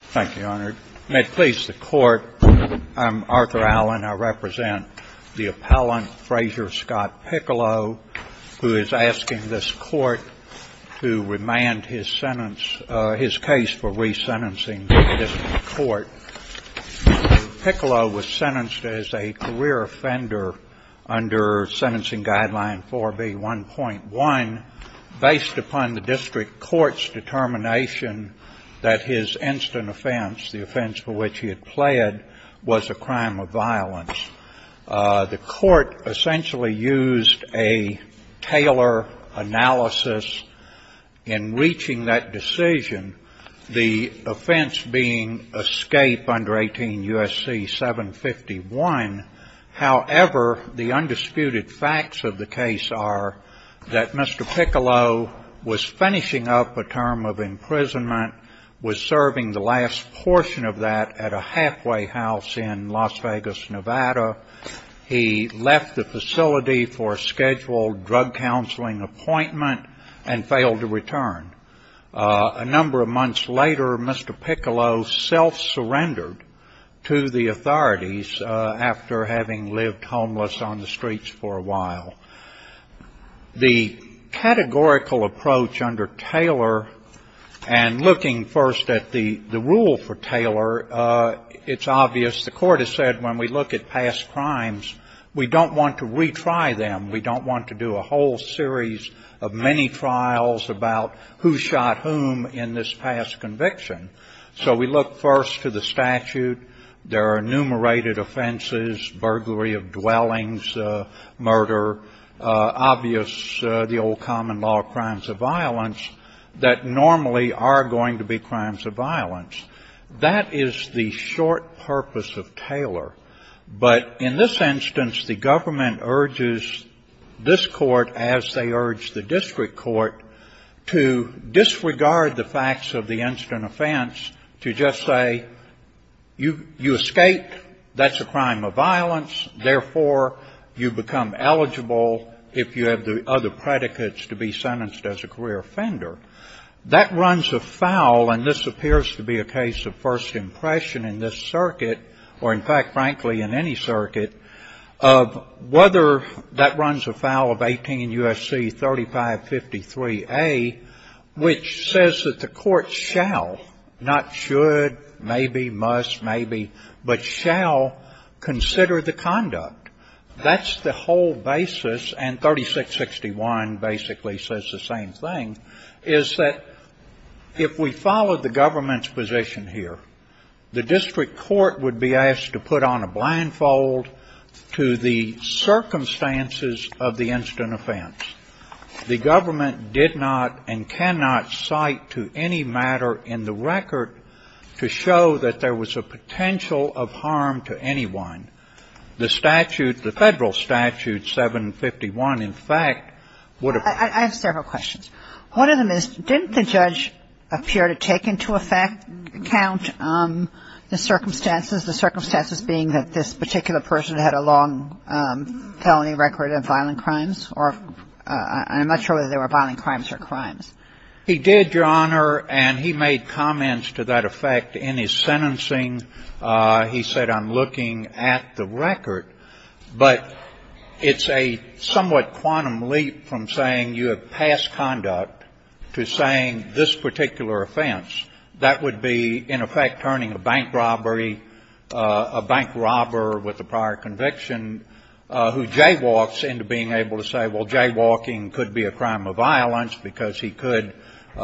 Thank you, Your Honor. May it please the Court, I'm Arthur Allen. I represent the appellant Frazier Scott Piccolo, who is asking this Court to remand his sentence, his case for resentencing the District Court. Piccolo was sentenced as a career offender under Sentencing Guideline 4B1.1 based upon the District Court's determination that his instant offense, the offense for which he had pled, was a crime of violence. The Court essentially used a Taylor analysis in reaching that decision, the offense being escape under 18 U.S.C. 751. However, the undisputed facts of the case are that Mr. Piccolo was finishing up a term of imprisonment, was serving the last portion of that at a halfway house in Las Vegas, Nevada. He left the facility for a scheduled drug counseling appointment and failed to return. A number of months later, Mr. Piccolo self-surrendered to the authorities after having lived homeless on the streets for a while. The categorical approach under Taylor and looking first at the rule for Taylor, it's obvious. As the Court has said, when we look at past crimes, we don't want to retry them. We don't want to do a whole series of many trials about who shot whom in this past conviction. So we look first to the statute. There are enumerated offenses, burglary of dwellings, murder, obvious, the old common law of crimes of violence, that normally are going to be crimes of violence. That is the short purpose of Taylor. But in this instance, the government urges this Court, as they urge the district court, to disregard the facts of the instant offense to just say you escaped, that's a crime of violence, therefore, you become eligible if you have the other predicates to be sentenced as a career offender. That runs afoul, and this appears to be a case of first impression in this circuit or, in fact, frankly, in any circuit, of whether that runs afoul of 18 U.S.C. 3553A, which says that the Court shall, not should, maybe, must, maybe, but shall consider the conduct. That's the whole basis, and 3661 basically says the same thing, is that if we follow the government's position here, the district court would be asked to put on a blindfold to the circumstances of the instant offense. The government did not and cannot cite to any matter in the record to show that there was a potential of harm to anyone. The statute, the Federal Statute 751, in fact, would have been. Kagan. I have several questions. One of them is didn't the judge appear to take into account the circumstances, the circumstances being that this particular person had a long felony record of violent crimes, or I'm not sure whether they were violent crimes or crimes. He did, Your Honor, and he made comments to that effect in his sentencing. He said, I'm looking at the record, but it's a somewhat quantum leap from saying you have passed conduct to saying this particular offense. That would be, in effect, turning a bank robbery, a bank robber with a prior conviction who jaywalks into being able to say, well, jaywalking could be a crime of violence because he could go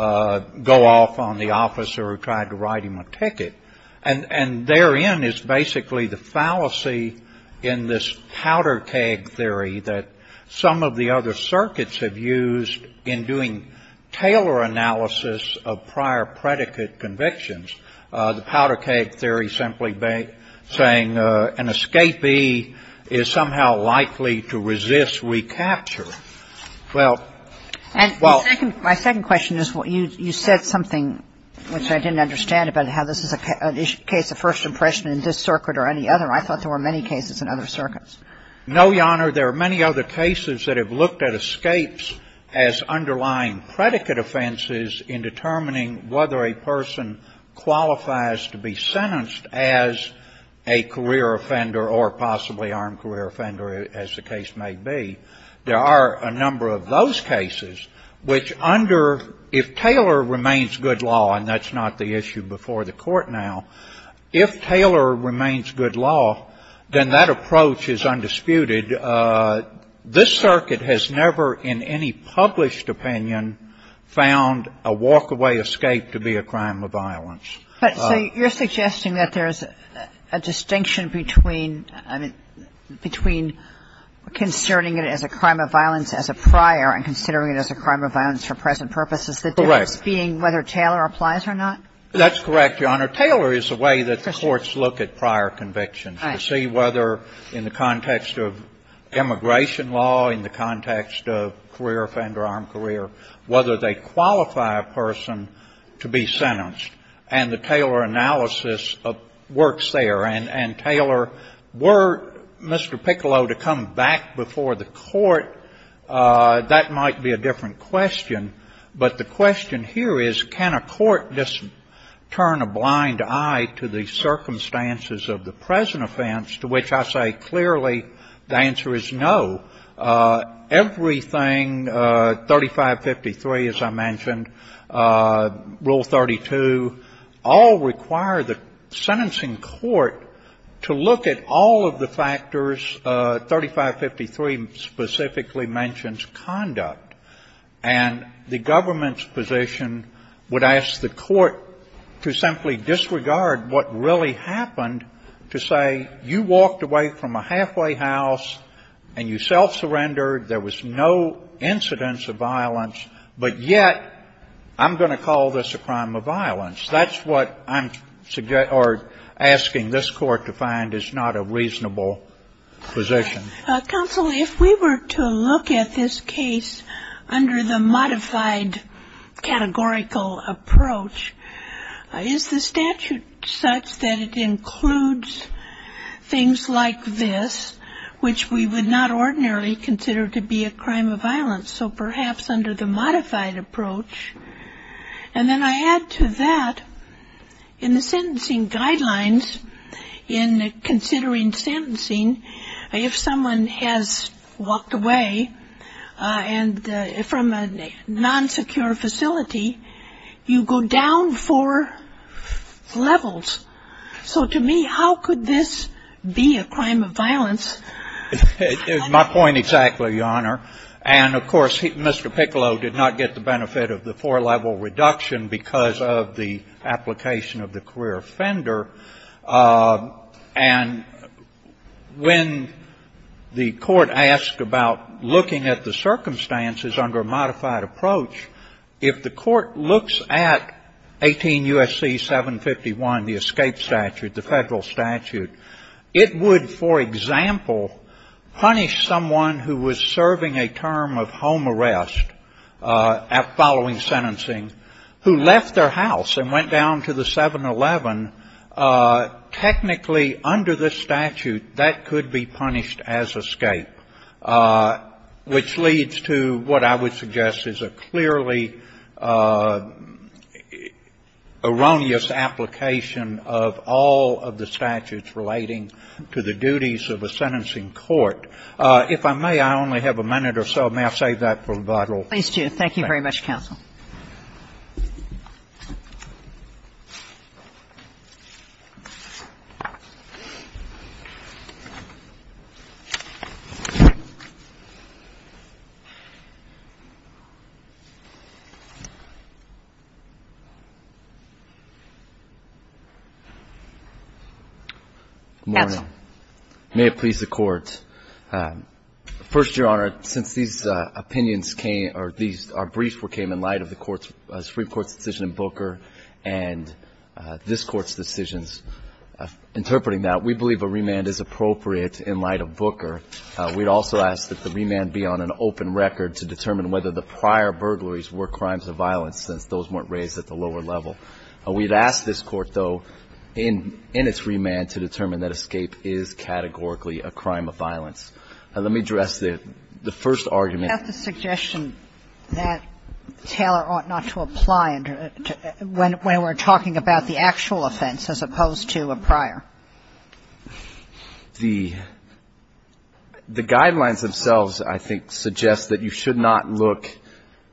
off on the officer who tried to write him a ticket. And therein is basically the fallacy in this powder keg theory that some of the other circuits have used in doing Taylor analysis of prior predicate convictions, the powder keg theory simply saying an escapee is somehow likely to resist recapture. Well, well. My second question is, you said something which I didn't understand about how this is a case of first impression in this circuit or any other. I thought there were many cases in other circuits. No, Your Honor. There are many other cases that have looked at escapes as underlying predicate offenses in determining whether a person qualifies to be sentenced as a career offender or possibly armed career offender, as the case may be. There are a number of those cases which under, if Taylor remains good law, and that's not the issue before the Court now, if Taylor remains good law, then that approach is undisputed. This circuit has never in any published opinion found a walkaway escape to be a crime of violence. But, say, you're suggesting that there's a distinction between, I mean, between considering it as a crime of violence as a prior and considering it as a crime of violence for present purposes, the difference being whether Taylor applies or not? That's correct, Your Honor. Taylor is a way that the courts look at prior convictions to see whether, in the context of immigration law, in the context of career offender, armed career, whether they come back before the court, that might be a different question. But the question here is, can a court just turn a blind eye to the circumstances of the present offense, to which I say clearly the answer is no. Everything, 3553, as I mentioned, Rule 32, all require the sentencing court to look at all of the factors. 3553 specifically mentions conduct. And the government's position would ask the court to simply disregard what really happened to say you walked away from a halfway house and you self-surrendered, there was no incidence of violence, but yet I'm going to call this a crime of violence. That's what I'm asking this Court to find is not a reasonable position. Counsel, if we were to look at this case under the modified categorical approach, is the statute such that it includes things like this, which we would not ordinarily So perhaps under the modified approach. And then I add to that, in the sentencing guidelines, in considering sentencing, if someone has walked away from a non-secure facility, you go down four levels. So to me, how could this be a crime of violence? It's my point exactly, Your Honor. And, of course, Mr. Piccolo did not get the benefit of the four-level reduction because of the application of the career offender. And when the court asked about looking at the circumstances under a modified approach, if the court looks at 18 U.S.C. 751, the escape statute, the Federal punish someone who was serving a term of home arrest at following sentencing who left their house and went down to the 711, technically under this statute, that could be punished as escape, which leads to what I would suggest is a clearly erroneous application of all of the statutes relating to the duties of a sentencing court. If I may, I only have a minute or so. May I save that for rebuttal? Please do. Thank you very much, counsel. Good morning. First, Your Honor, since these opinions came or these briefs came in light of the Supreme Court's decision in Booker and this Court's decisions interpreting that, we believe a remand is appropriate in light of Booker. We'd also ask that the remand be on an open record to determine whether the prior burglaries were crimes of violence, since those weren't raised at the lower level. We'd ask this Court, though, in its remand to determine that escape is categorically a crime of violence. Let me address the first argument. That's a suggestion that Taylor ought not to apply when we're talking about the actual offense as opposed to a prior. The guidelines themselves, I think, suggest that you should not look,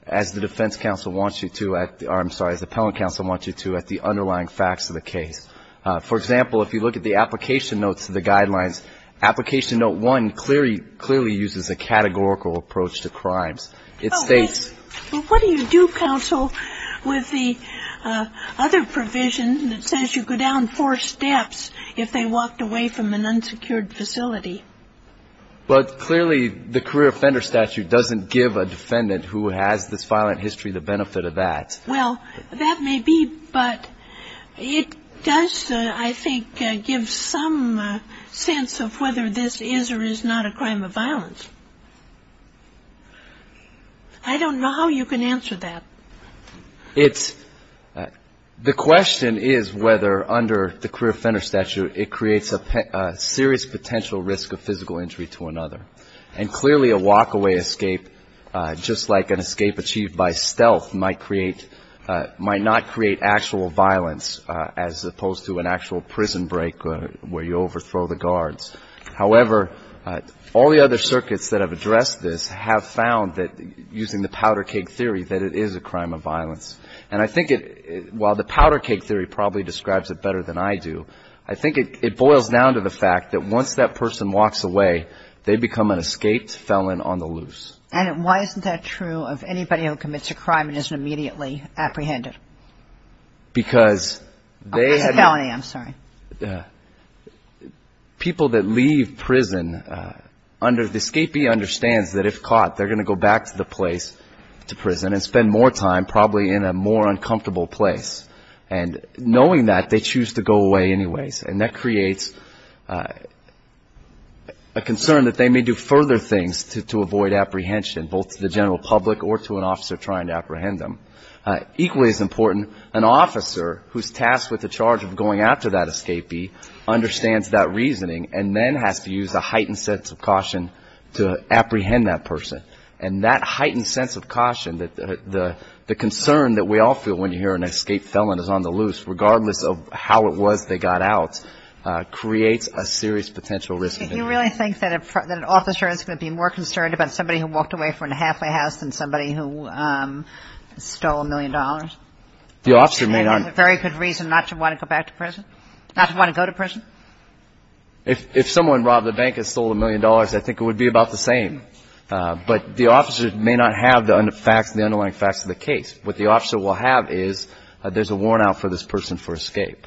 as the defense counsel wants you to, or I'm sorry, as the appellant counsel wants you to, at the underlying facts of the case. For example, if you look at the application notes to the guidelines, application note one clearly uses a categorical approach to crimes. It states… Well, what do you do, counsel, with the other provision that says you go down four steps if they walked away from an unsecured facility? Well, clearly, the career offender statute doesn't give a defendant who has this violent history the benefit of that. Well, that may be, but it does, I think, give some sense of whether this is or is not a crime of violence. I don't know how you can answer that. It's – the question is whether under the career offender statute it creates a serious potential risk of physical injury to another. And clearly a walk-away escape, just like an escape achieved by stealth, might create – might not create actual violence as opposed to an actual prison break where you overthrow the guards. However, all the other circuits that have addressed this have found that, using the powder-cake theory, that it is a crime of violence. And I think it – while the powder-cake theory probably describes it better than I do, I think it boils down to the fact that once that person walks away, they become an escaped felon on the loose. And why isn't that true of anybody who commits a crime and isn't immediately apprehended? Because they have – It's a felony. I'm sorry. People that leave prison under – the escapee understands that if caught, they're going to go back to the place, to prison, and spend more time probably in a more uncomfortable place. And knowing that, they choose to go away anyways. And that creates a concern that they may do further things to avoid apprehension, both to the general public or to an officer trying to apprehend them. Equally as important, an officer who's tasked with the charge of going after that escapee understands that reasoning and then has to use a heightened sense of caution to apprehend that person. And that heightened sense of caution, the concern that we all feel when you hear an escaped felon is on the loose, regardless of how it was they got out, creates a serious potential risk. Do you really think that an officer is going to be more concerned about somebody who walked away from a halfway house than somebody who stole a million dollars? The officer may not. And has a very good reason not to want to go back to prison? Not to want to go to prison? If someone robbed a bank and stole a million dollars, I think it would be about the same. But the officer may not have the facts, the underlying facts of the case. What the officer will have is there's a warrant out for this person for escape.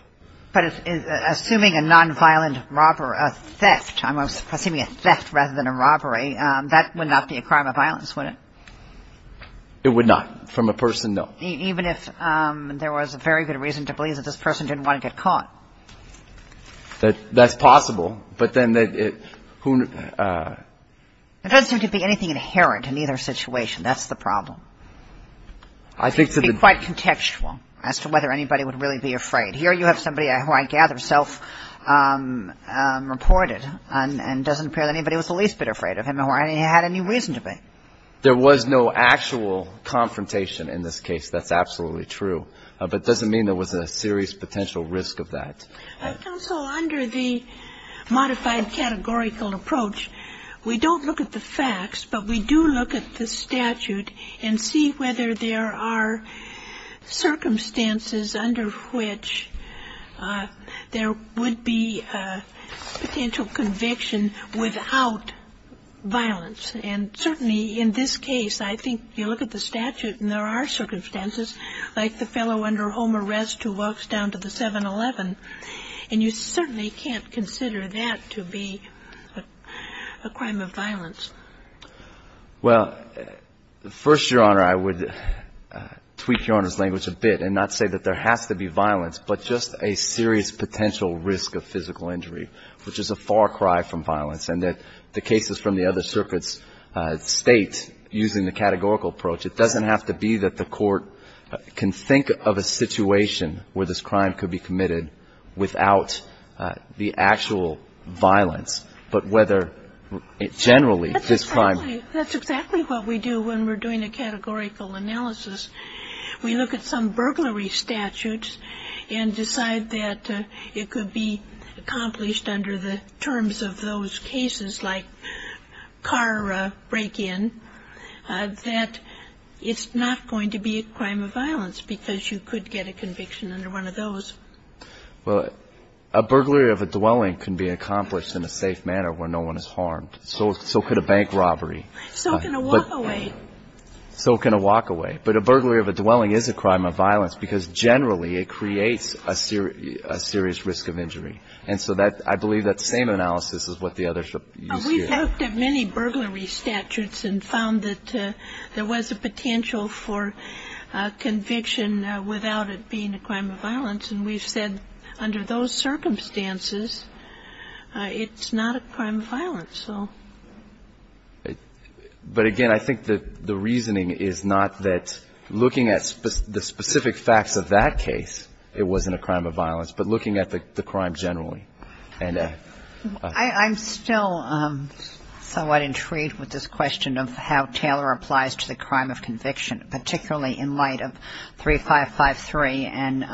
But assuming a nonviolent robbery, a theft, I'm assuming a theft rather than a robbery, that would not be a crime of violence, would it? It would not. From a person, no. Even if there was a very good reason to believe that this person didn't want to get caught? That's possible. But then who ñ There doesn't seem to be anything inherent in either situation. That's the problem. I think to the ñ It would be quite contextual as to whether anybody would really be afraid. Here you have somebody who I gather self-reported and doesn't appear that anybody was the least bit afraid of him or had any reason to be. There was no actual confrontation in this case. That's absolutely true. But it doesn't mean there was a serious potential risk of that. Counsel, under the modified categorical approach, we don't look at the facts, but we do look at the statute and see whether there are circumstances under which there would be a potential conviction without violence. And certainly in this case, I think you look at the statute and there are circumstances, like the fellow under home arrest who walks down to the 7-Eleven, and you certainly can't consider that to be a crime of violence. Well, first, Your Honor, I would tweak Your Honor's language a bit and not say that there has to be violence, but just a serious potential risk of physical injury, which is a far cry from violence, and that the cases from the other circuits state, using the categorical approach, it doesn't have to be that the court can think of a situation where this crime could be committed without the actual violence, but whether generally this crime. That's exactly what we do when we're doing a categorical analysis. We look at some burglary statutes and decide that it could be accomplished under the terms of those cases, like car break-in, that it's not going to be a crime of violence, but you could get a conviction under one of those. Well, a burglary of a dwelling can be accomplished in a safe manner where no one is harmed. So could a bank robbery. So can a walk-away. So can a walk-away. But a burglary of a dwelling is a crime of violence because generally it creates a serious risk of injury. And so I believe that same analysis is what the others use here. We've looked at many burglary statutes and found that there was a potential for conviction without it being a crime of violence. And we've said under those circumstances, it's not a crime of violence. But, again, I think the reasoning is not that looking at the specific facts of that case, it wasn't a crime of violence, but looking at the crime generally. I'm still somewhat intrigued with this question of how Taylor applies to the crime of conviction, particularly in light of 3553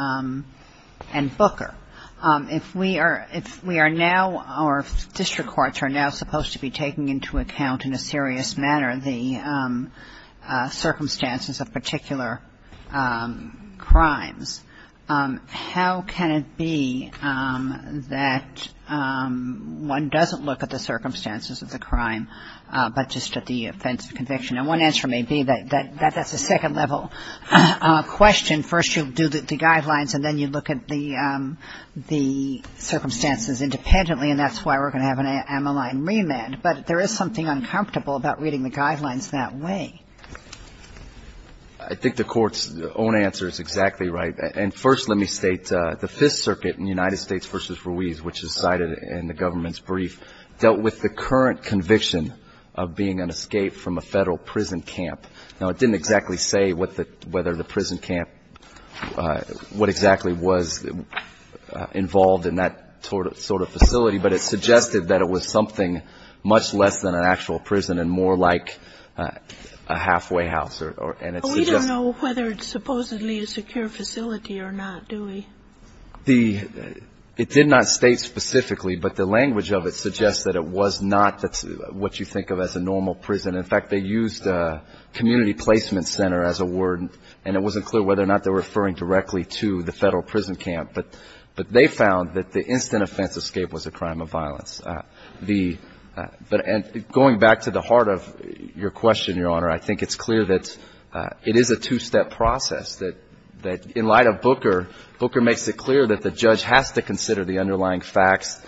and Booker. If we are now or if district courts are now supposed to be taking into account in a serious manner the circumstances of particular crimes, how can it be that one doesn't look at the circumstances of the crime, but just at the offense of conviction? And one answer may be that that's a second-level question. First you do the guidelines, and then you look at the circumstances independently, and that's why we're going to have an Ammaline remand. But there is something uncomfortable about reading the guidelines that way. I think the Court's own answer is exactly right. And first let me state the Fifth Circuit in the United States v. Ruiz, which is cited in the government's brief, dealt with the current conviction of being an escape from a Federal prison camp. Now, it didn't exactly say whether the prison camp, what exactly was involved in that sort of facility, but it suggested that it was something much less than an actual prison and more like a halfway house. And it suggests that we don't know whether it's supposedly a secure facility or not, do we? It did not state specifically, but the language of it suggests that it was not what you think of as a normal prison. In fact, they used community placement center as a word, and it wasn't clear whether or not they were referring directly to the Federal prison camp. But they found that the instant offense escape was a crime of violence. And going back to the heart of your question, Your Honor, I think it's clear that it is a two-step process, that in light of Booker, Booker makes it clear that the judge has to consider the underlying facts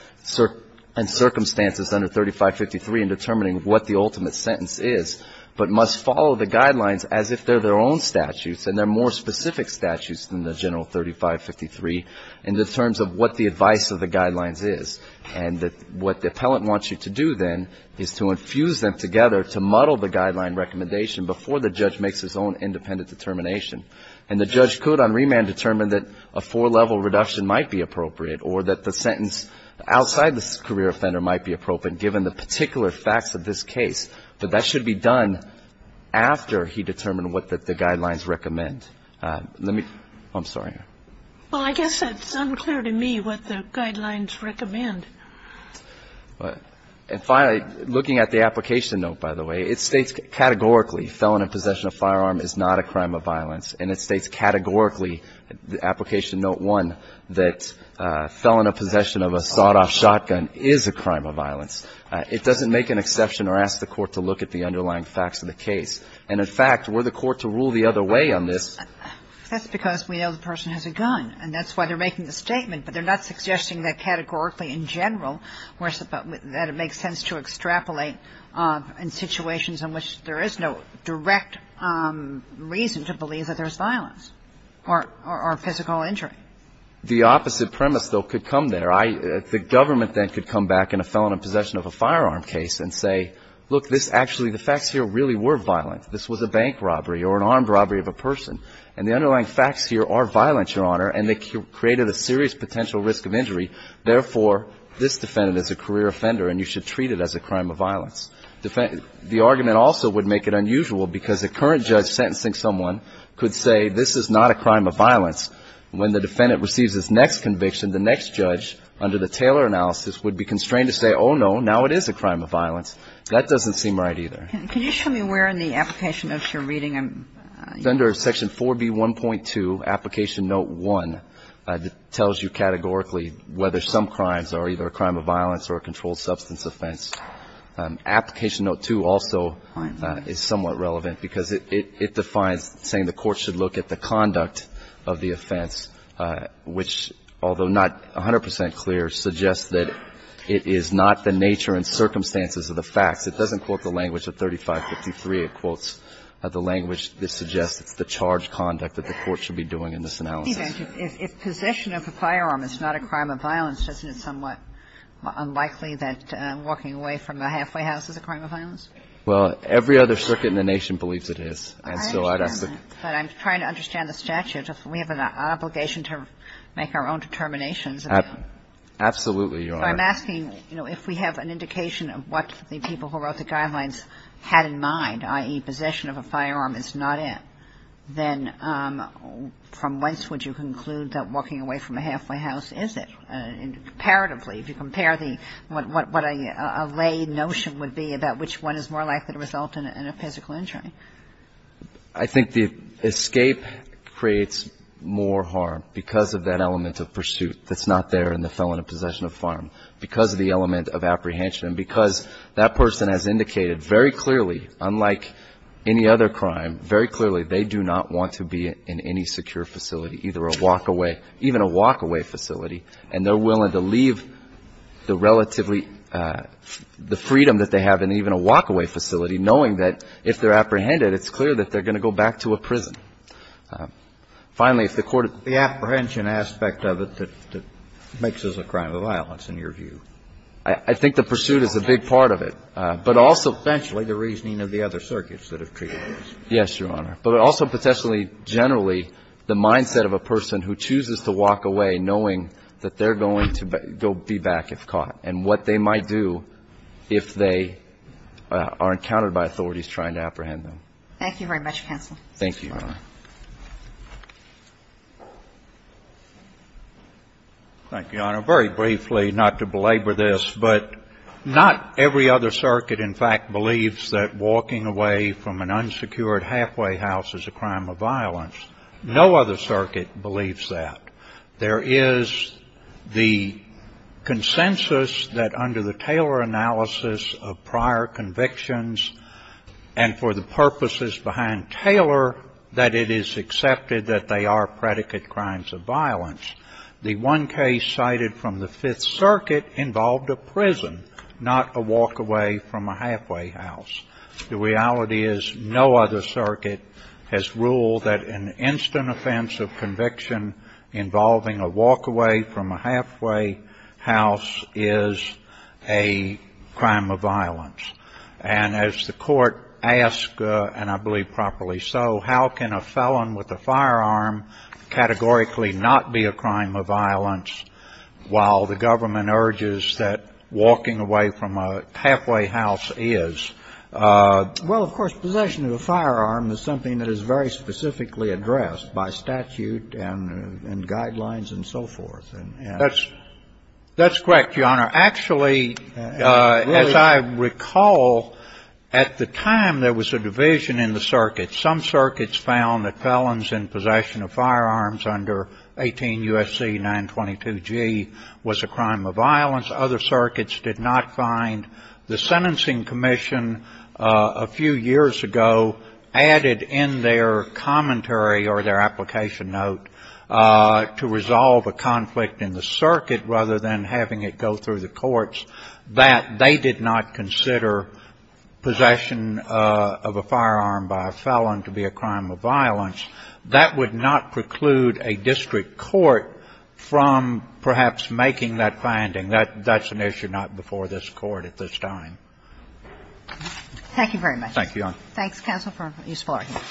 and circumstances under 3553 in determining what the ultimate sentence is, but must follow the guidelines as if they're their own statutes, and they're more specific statutes than the general 3553 in terms of what the advice of the guidelines is. And what the appellant wants you to do then is to infuse them together to muddle the guideline recommendation before the judge makes his own independent determination. And the judge could on remand determine that a four-level reduction might be appropriate or that the sentence outside the career offender might be appropriate, given the particular facts of this case. But that should be done after he determined what the guidelines recommend. Let me – I'm sorry. Well, I guess it's unclear to me what the guidelines recommend. And finally, looking at the application note, by the way, it states categorically felon in possession of firearm is not a crime of violence. And it states categorically, application note 1, that felon in possession of a sawed-off shotgun is a crime of violence. It doesn't make an exception or ask the court to look at the underlying facts of the case. And, in fact, were the court to rule the other way on this – That's because we know the person has a gun, and that's why they're making the statement. But they're not suggesting that categorically in general, that it makes sense to extrapolate in situations in which there is no direct reason to believe that there's violence or physical injury. The opposite premise, though, could come there. The government then could come back in a felon in possession of a firearm case and say, look, this actually – the facts here really were violent. This was a bank robbery or an armed robbery of a person. And the underlying facts here are violent, Your Honor, and they created a serious potential risk of injury. Therefore, this defendant is a career offender, and you should treat it as a crime of violence. The argument also would make it unusual because a current judge sentencing someone could say this is not a crime of violence. When the defendant receives his next conviction, the next judge, under the Taylor analysis, would be constrained to say, oh, no, now it is a crime of violence. That doesn't seem right either. Can you show me where in the application notes you're reading? Under Section 4B1.2, Application Note 1, it tells you categorically whether some crimes are either a crime of violence or a controlled substance offense. Application Note 2 also is somewhat relevant because it defines saying the court should look at the conduct of the offense, which, although not 100 percent clear, suggests that it is not the nature and circumstances of the facts. It doesn't quote the language of 3553. It quotes the language that suggests it's the charged conduct that the court should be doing in this analysis. If possession of a firearm is not a crime of violence, isn't it somewhat unlikely that walking away from a halfway house is a crime of violence? Well, every other circuit in the nation believes it is. I understand that. But I'm trying to understand the statute. We have an obligation to make our own determinations. Absolutely, Your Honor. So I'm asking, you know, if we have an indication of what the people who wrote the guidelines had in mind, i.e., possession of a firearm is not it, then from whence would you conclude that walking away from a halfway house is it? Comparatively, if you compare the – what a lay notion would be about which one is more likely to result in a physical injury. I think the escape creates more harm because of that element of pursuit that's not there in the felon in possession of a firearm, because of the element of apprehension and because that person has indicated very clearly, unlike any other crime, very likely to be in a prison. And if they're apprehended, then they're going to be in either a walk-away facility, and they're willing to leave the relatively – the freedom that they have in even a walk-away facility, knowing that if they're apprehended, it's clear that they're going to go back to a prison. Finally, if the court of the apprehension aspect of it that makes this a crime of violence, in your view? I think the pursuit is a big part of it. But also, potentially, the reasoning of the other circuits that have created this. Yes, Your Honor. But also, potentially, generally, the mindset of a person who chooses to walk away knowing that they're going to be back if caught, and what they might do if they are encountered by authorities trying to apprehend them. Thank you very much, counsel. Thank you, Your Honor. Thank you, Your Honor. Very briefly, not to belabor this, but not every other circuit, in fact, believes that walking away from an unsecured halfway house is a crime of violence. No other circuit believes that. There is the consensus that under the Taylor analysis of prior convictions and for the purposes behind Taylor, that it is accepted that they are predicate crimes of violence. The one case cited from the Fifth Circuit involved a prison, not a walk away from a halfway house. The reality is no other circuit has ruled that an instant offense of conviction involving a walk away from a halfway house is a crime of violence. And as the Court asked, and I believe properly so, how can a felon with a firearm categorically not be a crime of violence while the government urges that walking away from a halfway house is? Well, of course, possession of a firearm is something that is very specifically addressed by statute and guidelines and so forth. That's correct, Your Honor. Actually, as I recall, at the time there was a division in the circuit. Some circuits found that felons in possession of firearms under 18 U.S.C. 922G was a crime of violence. Other circuits did not find. The Sentencing Commission a few years ago added in their commentary or their application to note, to resolve a conflict in the circuit rather than having it go through the courts, that they did not consider possession of a firearm by a felon to be a crime of violence. That would not preclude a district court from perhaps making that finding. That's an issue not before this Court at this time. Thank you very much. Thank you, Your Honor. Thanks, counsel, for a useful argument.